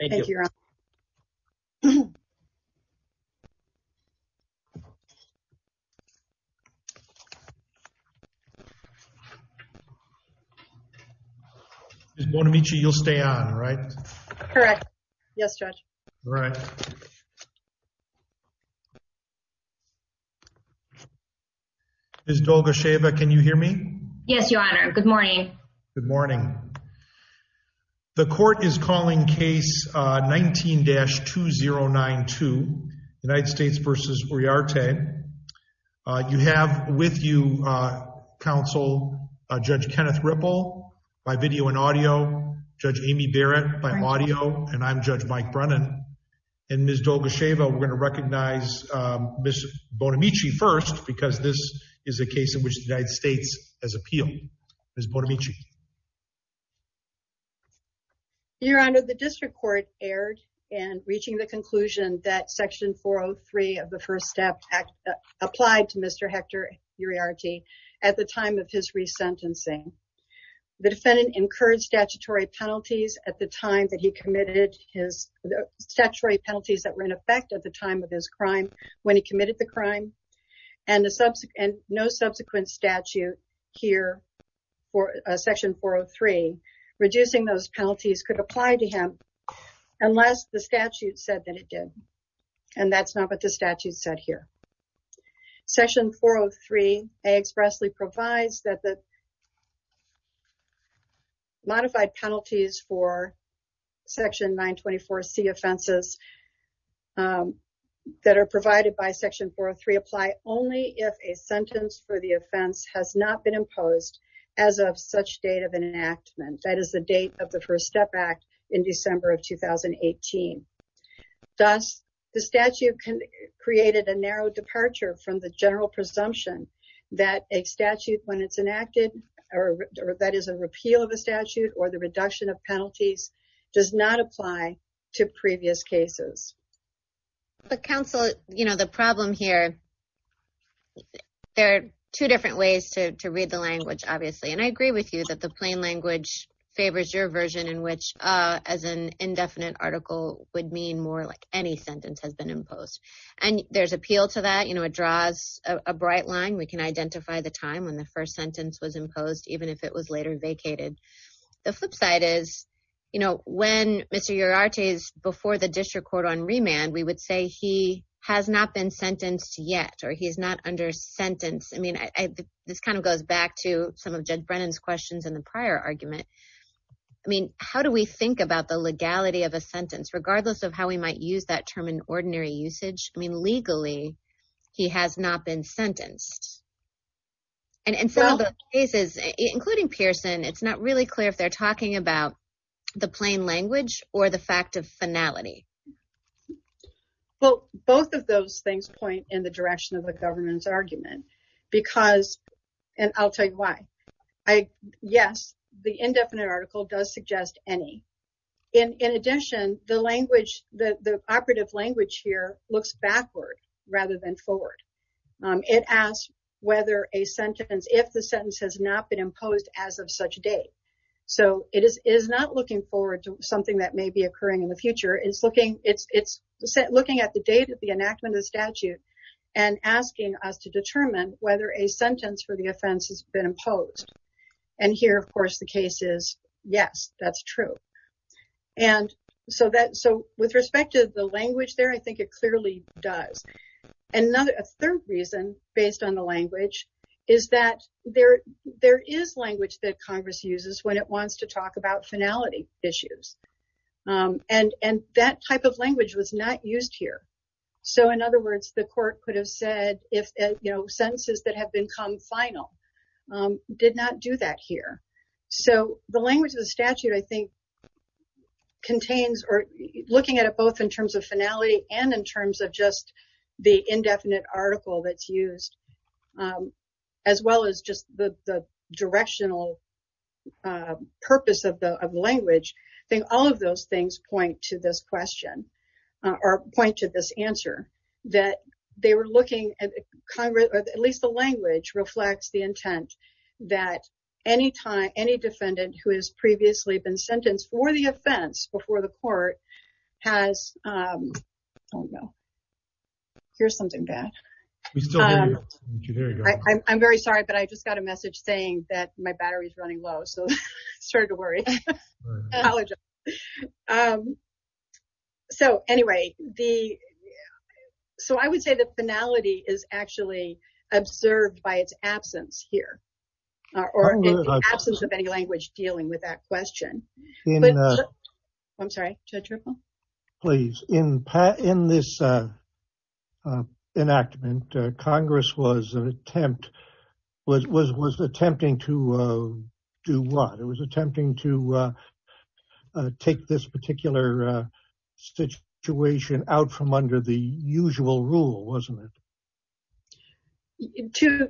Thank you, Your Honor. Ms. Bonamici, you'll stay on, right? Correct. Yes, Judge. All right. Ms. Dolgo-Sheava, can you hear me? Yes, Your Honor. Good morning. Good morning. The court is calling case 19-2092, United States v. Uriarte. You have with you counsel Judge Kenneth Ripple by video and audio, Judge Amy Barrett by audio, and I'm Judge Mike Brennan. And Ms. Dolgo-Sheava, we're going to recognize Ms. Bonamici first because this is a case in which the United Your Honor, the district court erred in reaching the conclusion that section 403 of the First Step Act applied to Mr. Hector Uriarte at the time of his resentencing. The defendant incurred statutory penalties at the time that he committed his statutory penalties that were in effect at the time of his crime when he committed the crime, and no subsequent statute here for a section 403 reducing those penalties could apply to him unless the statute said that it did. And that's not what the statute said here. Section 403 expressly provides that the modified penalties for section 924 C offenses that are provided by section 403 apply only if a sentence for the offense has not been imposed as of such date of enactment. That is the date of the First Step Act in December of 2018. Thus, the statute created a narrow departure from the general presumption that a statute when it's enacted or that is a repeal of a statute or the reduction of penalties does not apply to previous cases. But to read the language, obviously, and I agree with you that the plain language favors your version in which as an indefinite article would mean more like any sentence has been imposed. And there's appeal to that, you know, it draws a bright line. We can identify the time when the first sentence was imposed even if it was later vacated. The flip side is, you know, when Mr. Uriarte is before the district court on remand, we would say he has not been sentenced yet or he's not under sentence. I mean, this kind of goes back to some of Judge Brennan's questions in the prior argument. I mean, how do we think about the legality of a sentence regardless of how we might use that term in ordinary usage? I mean, legally, he has not been sentenced. And in some of the cases, including Pearson, it's not really clear if they're talking about the plain language or the fact of finality. Well, both of those things point in the direction of the government's argument because, and I'll tell you why, yes, the indefinite article does suggest any. In addition, the language, the operative language here looks backward rather than forward. It asks whether a sentence, if the sentence has not been imposed as of such date. So, it is not looking forward to something that may be occurring in the future. It's looking at the date of the enactment of the statute and asking us to determine whether a sentence for the offense has been imposed. And here, of course, the case is yes, that's true. And so, with respect to the language there, I think it clearly does. A third reason, based on the language, is that there is language that Congress uses when it wants to talk about finality issues. And that type of language was not used here. So, in other words, the court could have said if, you know, sentences that have been come final did not do that here. So, the language of the statute, I think, contains or looking at it both in terms of finality and in terms of just the indefinite article that's used, as well as just the directional purpose of the language. I think all of those things point to this question, or point to this answer, that they were looking at Congress, or at least the language, reflects the intent that any time any defendant who has previously been sentenced for the offense before the court has, oh no, here's something bad. I'm very sorry, but I just got a message saying that my battery is running low, so I started to worry. So, anyway, so I would say that finality is actually observed by its absence here, or absence of any language dealing with that question. I'm sorry, Judge Ripple? Please, in this enactment, Congress was an attempt, was attempting to do what? It was attempting to take this particular situation out from under the usual rule, wasn't it?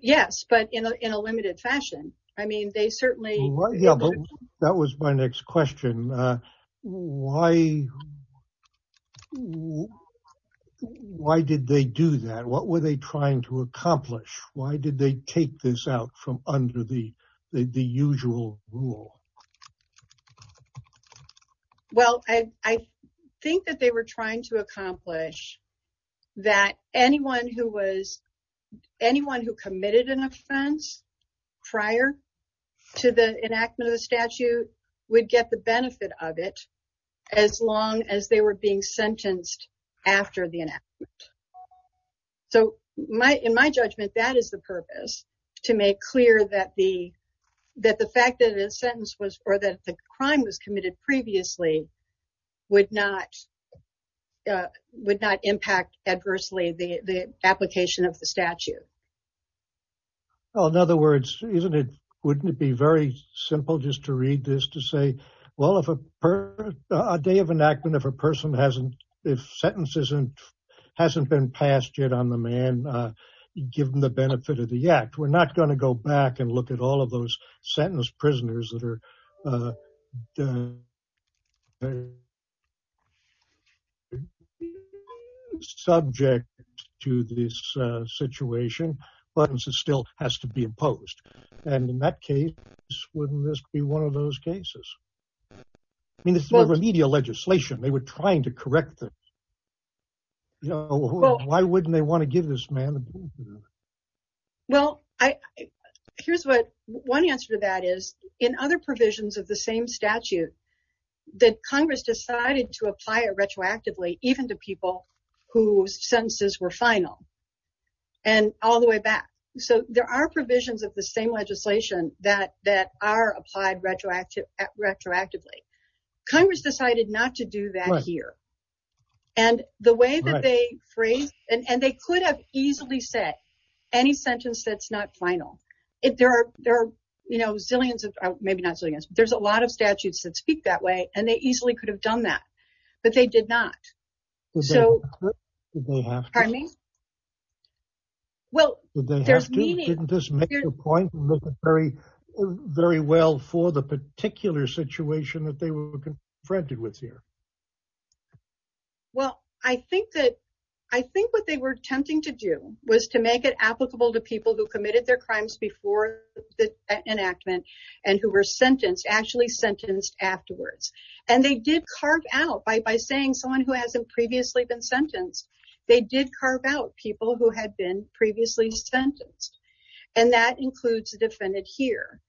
Yes, but in a limited fashion. I mean, they certainly... That was my next question. Why did they do that? What were they trying to accomplish? Why did they take this out from under the usual rule? Well, I think that they were trying to accomplish that anyone who was, anyone who committed an offense under the statute would get the benefit of it as long as they were being sentenced after the enactment. So, in my judgment, that is the purpose, to make clear that the fact that the sentence was, or that the crime was committed previously, would not impact adversely the application of the statute. Well, in other words, isn't it, wouldn't it be very simple just to read this to say, well, if a person, a day of enactment, if a person hasn't, if sentence isn't, hasn't been passed yet on the man, given the benefit of the act, we're not going to go back and look at all of those sentenced prisoners that are subject to this situation, but this still has to be imposed. And in that case, wouldn't this be one of those cases? I mean, this is remedial legislation. They were trying to correct this. Why wouldn't they want to give this man the benefit of it? Well, I, here's what, one answer to that is, in other provisions of the same statute, that Congress decided to apply it retroactively, even to people whose sentences were final, and all the way back. So, there are provisions of the same legislation that, that are applied retroactively. Congress decided not to do that here. And the way that they phrase, and they could have easily said any sentence that's not final. If there are, there are, you know, zillions of, maybe not zillions, but there's a lot of statutes that speak that way, and they easily could have done that, but they did not. So, did they have to? Pardon me? Well, did they have to? Didn't this make a point? Very, very well for the particular situation that they confronted with here. Well, I think that, I think what they were attempting to do was to make it applicable to people who committed their crimes before the enactment, and who were sentenced, actually sentenced afterwards. And they did carve out, by saying someone who hasn't previously been sentenced, they did carve out people who had been previously sentenced. And that includes the defendant here.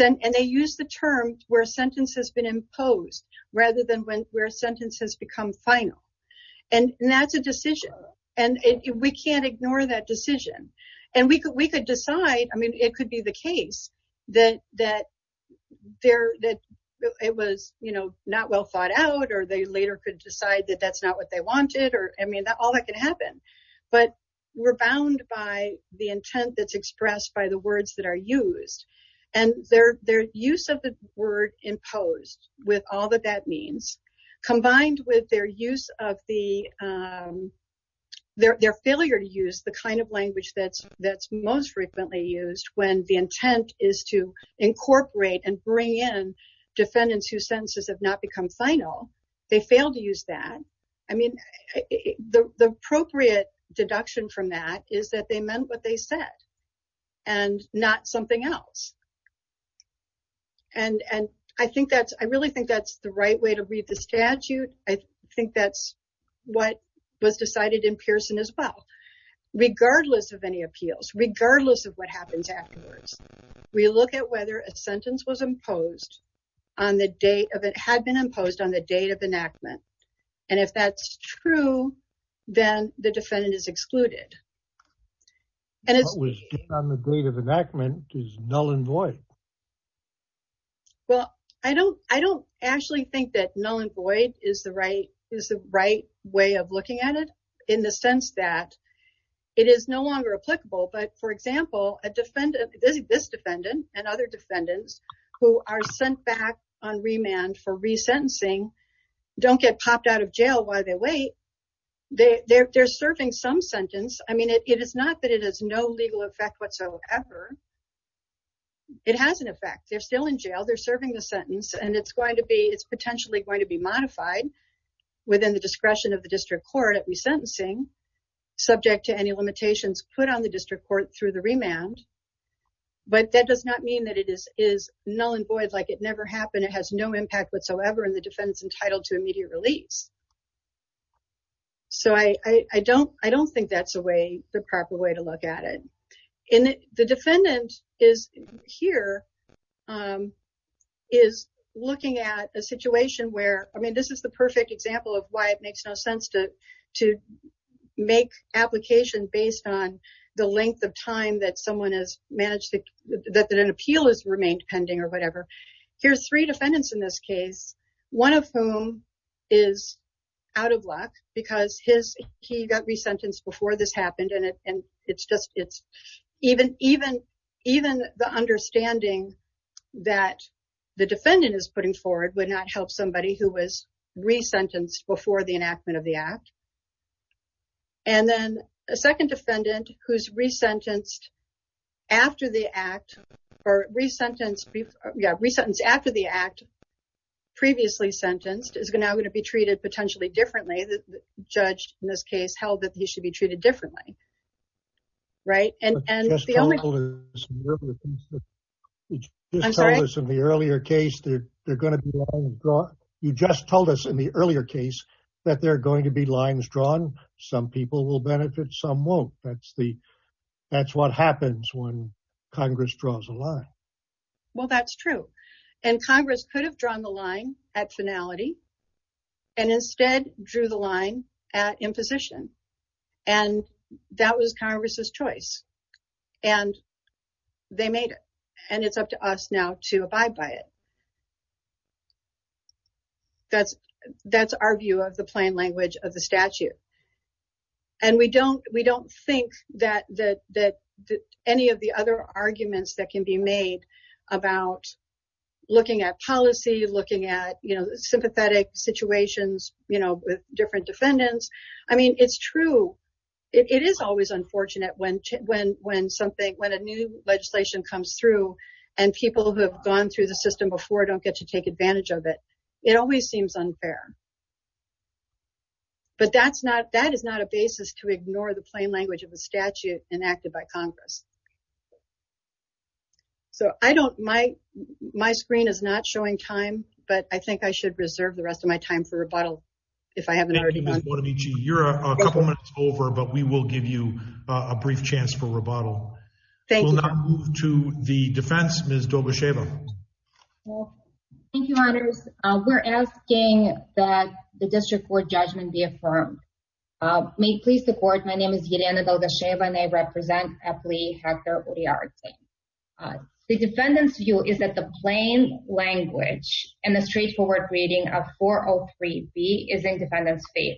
And they used the term where sentence has been imposed, rather than where sentences become final. And that's a decision, and we can't ignore that decision. And we could, we could decide, I mean, it could be the case that, that there, that it was, you know, not well thought out, or they later could decide that that's not what they wanted, or, I mean, all that can happen. But we're bound by the intent that's expressed by the words that are used. And their, their use of the word imposed, with all that that means, combined with their use of the, their failure to use the kind of language that's, that's most frequently used, when the intent is to incorporate and bring in defendants whose appropriate deduction from that is that they meant what they said, and not something else. And, and I think that's, I really think that's the right way to read the statute. I think that's what was decided in Pearson as well. Regardless of any appeals, regardless of what happens afterwards, we look at whether a sentence was imposed on the date of, it had been imposed on the date of enactment. And if that's true, then the defendant is excluded. And it was on the date of enactment is null and void. Well, I don't, I don't actually think that null and void is the right is the right way of looking at it, in the sense that it is no longer applicable. But for example, a defendant, this defendant and other defendants who are sent back on don't get popped out of jail while they wait. They're serving some sentence. I mean, it is not that it has no legal effect whatsoever. It has an effect, they're still in jail, they're serving the sentence, and it's going to be it's potentially going to be modified within the discretion of the district court at resentencing, subject to any limitations put on the district court through the remand. But that does not mean that it is is null and void, like it never happened, it has no impact whatsoever in the defense entitled to immediate release. So I don't I don't think that's a way the proper way to look at it. In the defendant is here is looking at a situation where I mean, this is the perfect example of why it makes no sense to to make application based on the length of time that someone has managed to that that an appeal is remained pending or whatever. Here's three defendants in this case, one of whom is out of luck because his he got resentenced before this happened and it and it's just it's even even even the understanding that the defendant is putting forward would not help somebody who was resentenced before the enactment of the act. And then a second defendant who's resentenced after the act, or resentenced after the act, previously sentenced, is now going to be treated potentially differently. The judge in this case held that he should be treated differently. Right? And and the only... You just told us in the earlier case that they're going to be lines drawn. You just told us in the earlier case that they're going to be lines drawn. Some people will benefit, some won't. That's the that's what happens when Congress draws a line. Well that's true. And Congress could have drawn the line at finality and instead drew the line at imposition. And that was Congress's choice. And they made it. And it's up to us now to abide by it. That's that's our view of the plain language of the statute. And we don't we don't think that any of the other arguments that can be made about looking at policy, looking at you know sympathetic situations you know with different defendants. I mean it's true it is always unfortunate when when when something when a new legislation comes through and people who have gone through the system before don't get to take advantage of it. It always seems unfair. But that's not that is not a statute enacted by Congress. So I don't my my screen is not showing time, but I think I should reserve the rest of my time for rebuttal. If I haven't already done. You're a couple minutes over, but we will give you a brief chance for rebuttal. Thank you. To the defense, Ms. Dobasheva. Thank you, honors. We're asking that the district court judgment be affirmed. May please support. My name is Yelena Dobasheva, and I represent FLE Hector Uriarte. The defendant's view is that the plain language and the straightforward reading of 403 B is in defendant's favor.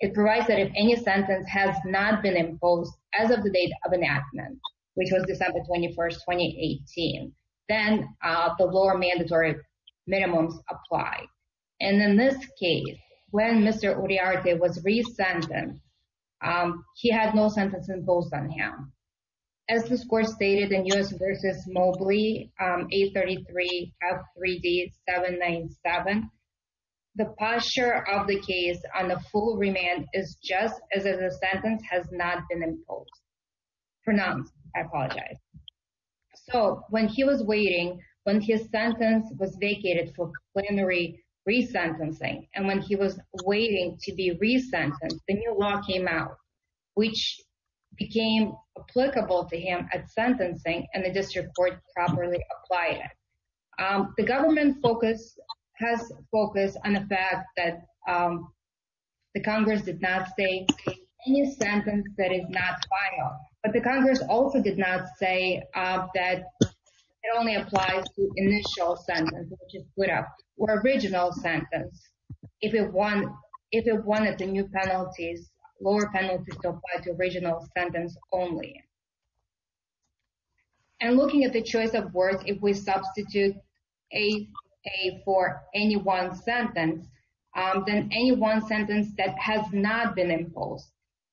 It provides that if any sentence has not been imposed as of the date of enactment, which was December 21st, 2018, then the lower mandatory minimums apply. And in this case, when Mr. Uriarte was re-sentenced, he had no sentence imposed on him. As the score stated in U.S. v. Mobley, 833 F3D 797, the posture of the case on the full remand is just as if the sentence has not been imposed. For nonce, I apologize. So when he was waiting, when his sentence was vacated for plenary re-sentencing, and when he was waiting to be re-sentenced, the new law came out, which became applicable to him at sentencing, and the district court properly applied it. The government focus has focused on the fact that the Congress did not say any sentence that is not final, but the Congress also did not say that it only applies to initial sentence, which is split up, or original sentence, if it wanted the new penalties, lower penalties to apply to original sentence only. And looking at the choice of words, if we substitute a for any one sentence, then any one sentence that has not been imposed,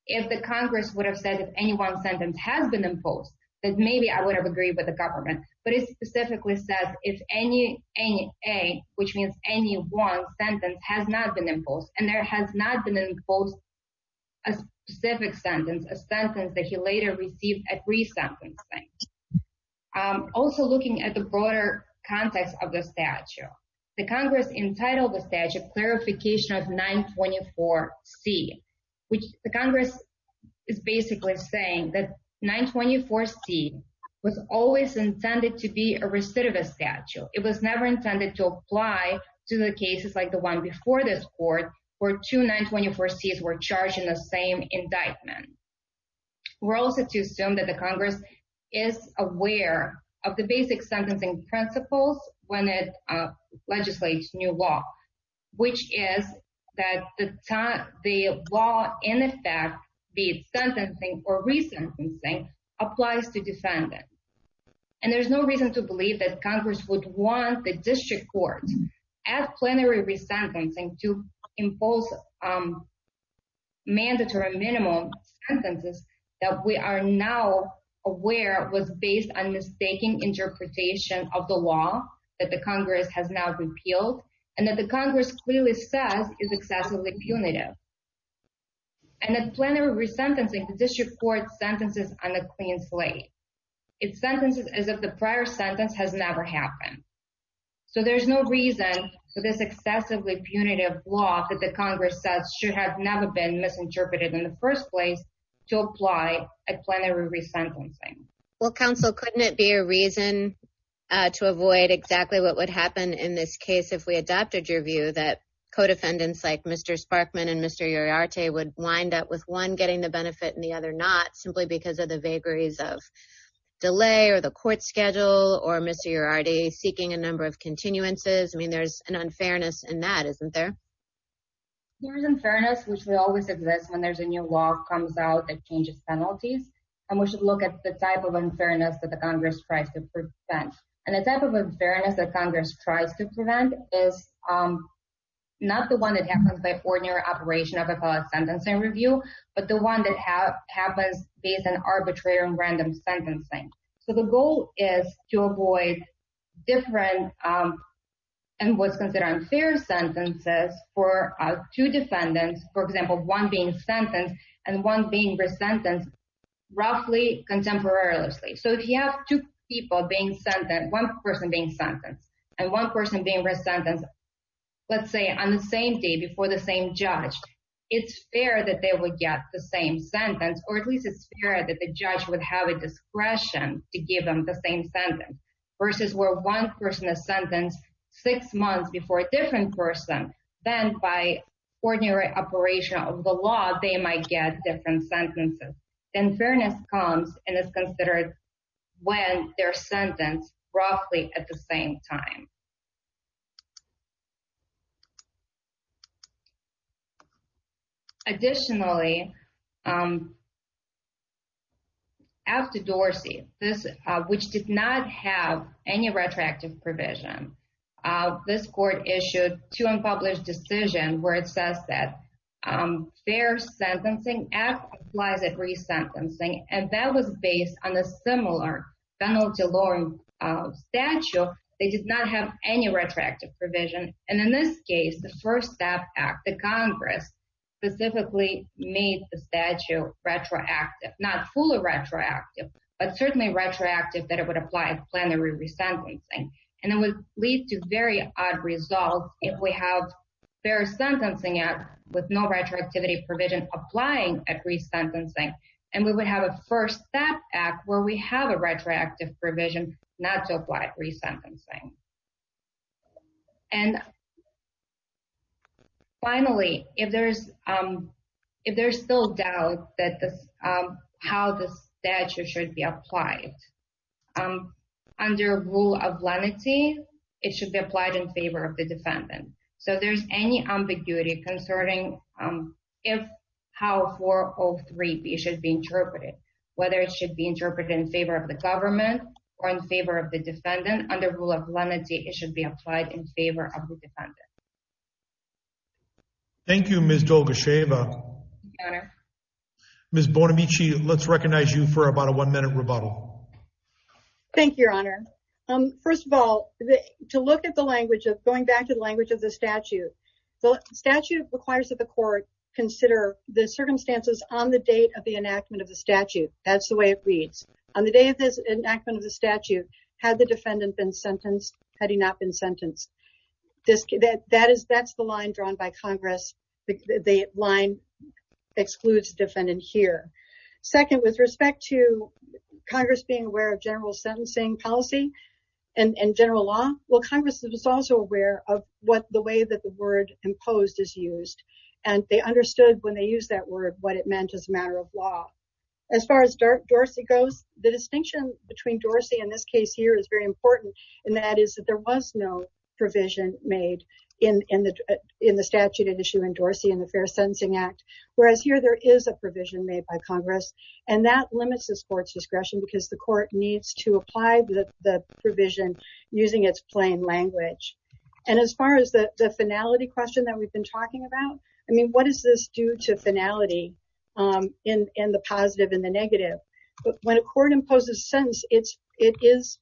if the Congress would have said that any one sentence has been imposed, then maybe I would have agreed with the Congress. So any A, which means any one sentence, has not been imposed, and there has not been imposed a specific sentence, a sentence that he later received at re-sentencing. Also looking at the broader context of the statute, the Congress entitled the statute Clarification of 924 C, which the Congress is basically saying that 924 C was always intended to be a recidivist statute. It was never intended to apply to the cases like the one before this court, where two 924 C's were charged in the same indictment. We're also to assume that the Congress is aware of the basic sentencing principles when it legislates new law, which is that the law in effect, be it sentencing or re-sentencing, applies to defendant. And there's no reason to believe that Congress would want the district court, at plenary re-sentencing, to impose mandatory minimum sentences that we are now aware was based on mistaking interpretation of the law that the Congress has now repealed, and that the Congress clearly says is excessively punitive. And at plenary re-sentencing, the district court sentences on the clean slate. It sentences as if the prior sentence has never happened. So there's no reason for this excessively punitive law that the Congress says should have never been misinterpreted in the first place to apply at plenary re-sentencing. Well, counsel, couldn't it be a reason to avoid exactly what would happen in this case if we adopted your view that co-defendants like Mr. Sparkman and Mr. Uriarte would wind up with one getting the benefit and the other not, simply because of the vagaries of delay, or the court schedule, or Mr. Uriarte seeking a number of continuances? I mean, there's an unfairness in that, isn't there? There is unfairness, which will always exist when there's a new law comes out that changes penalties. And we should look at the type of unfairness that the Congress tries to prevent. And the type of unfairness that Congress tries to prevent is not the one that happens by ordinary operation of a felon's sentencing review, but the one that happens based on arbitrary or random sentencing. So the goal is to avoid different and what's considered unfair sentences for two defendants, for example, one being sentenced and one being re-sentenced roughly contemporarily. So if you have two people being sentenced, one person being sentenced and one person being sentenced, let's say on the same day before the same judge, it's fair that they would get the same sentence, or at least it's fair that the judge would have a discretion to give them the same sentence, versus where one person is sentenced six months before a different person, then by ordinary operation of the law, they might get different sentences. Then fairness comes and is considered when they're sentenced roughly at the same time. Additionally, after Dorsey, which did not have any retroactive provision, this court issued two unpublished decision where it says that fair sentencing applies at re-sentencing, and that was based on a similar penalty law statute that did not have any retroactive provision. And in this case, the First Step Act, the Congress specifically made the statute retroactive, not fully retroactive, but certainly retroactive that it would apply at plenary re-sentencing. And it would lead to very odd results if we have a fair retroactivity provision applying at re-sentencing, and we would have a First Step Act where we have a retroactive provision not to apply at re-sentencing. And finally, if there's still doubt how the statute should be applied, under rule of lenity, it should be applied in favor of the defendant. So if there's any ambiguity concerning how 403B should be interpreted, whether it should be interpreted in favor of the government or in favor of the defendant, under rule of lenity, it should be applied in favor of the defendant. Thank you, Ms. Dolgacheva. Ms. Bonamici, let's recognize you for about a one-minute rebuttal. Thank you, Your Honor. First of all, to look at the language, going back to the statute, the statute requires that the court consider the circumstances on the date of the enactment of the statute. That's the way it reads. On the day of the enactment of the statute, had the defendant been sentenced, had he not been sentenced? That's the line drawn by Congress. The line excludes the defendant here. Second, with respect to Congress being aware of general that the word imposed is used, and they understood when they used that word what it meant as a matter of law. As far as Dorsey goes, the distinction between Dorsey in this case here is very important, and that is that there was no provision made in the statute at issue in Dorsey in the Fair Sentencing Act, whereas here there is a provision made by Congress, and that limits this court's discretion because the court needs to apply the provision using its plain language. As far as the finality question that we've been talking about, I mean, what does this do to finality in the positive and the negative? When a court imposes a sentence, it is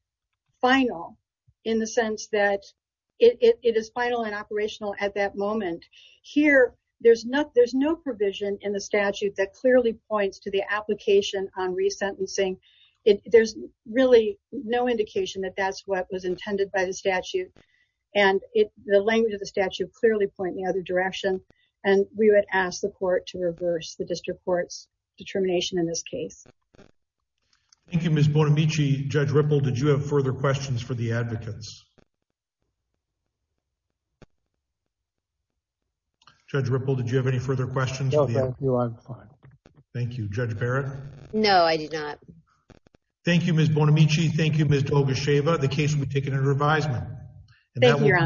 final in the sense that it is final and operational at that moment. Here, there's no provision in the statute that clearly points to the application on resentencing. There's really no provision in the statute, and the language of the statute clearly point in the other direction, and we would ask the court to reverse the district court's determination in this case. Thank you, Ms. Bonamici. Judge Ripple, did you have further questions for the advocates? Judge Ripple, did you have any further questions? No, thank you. I'm fine. Thank you. Judge Barrett? No, I did not. Thank you, Ms. Bonamici. Thank you, Ms. Reviseman. Thank you, Your Honor.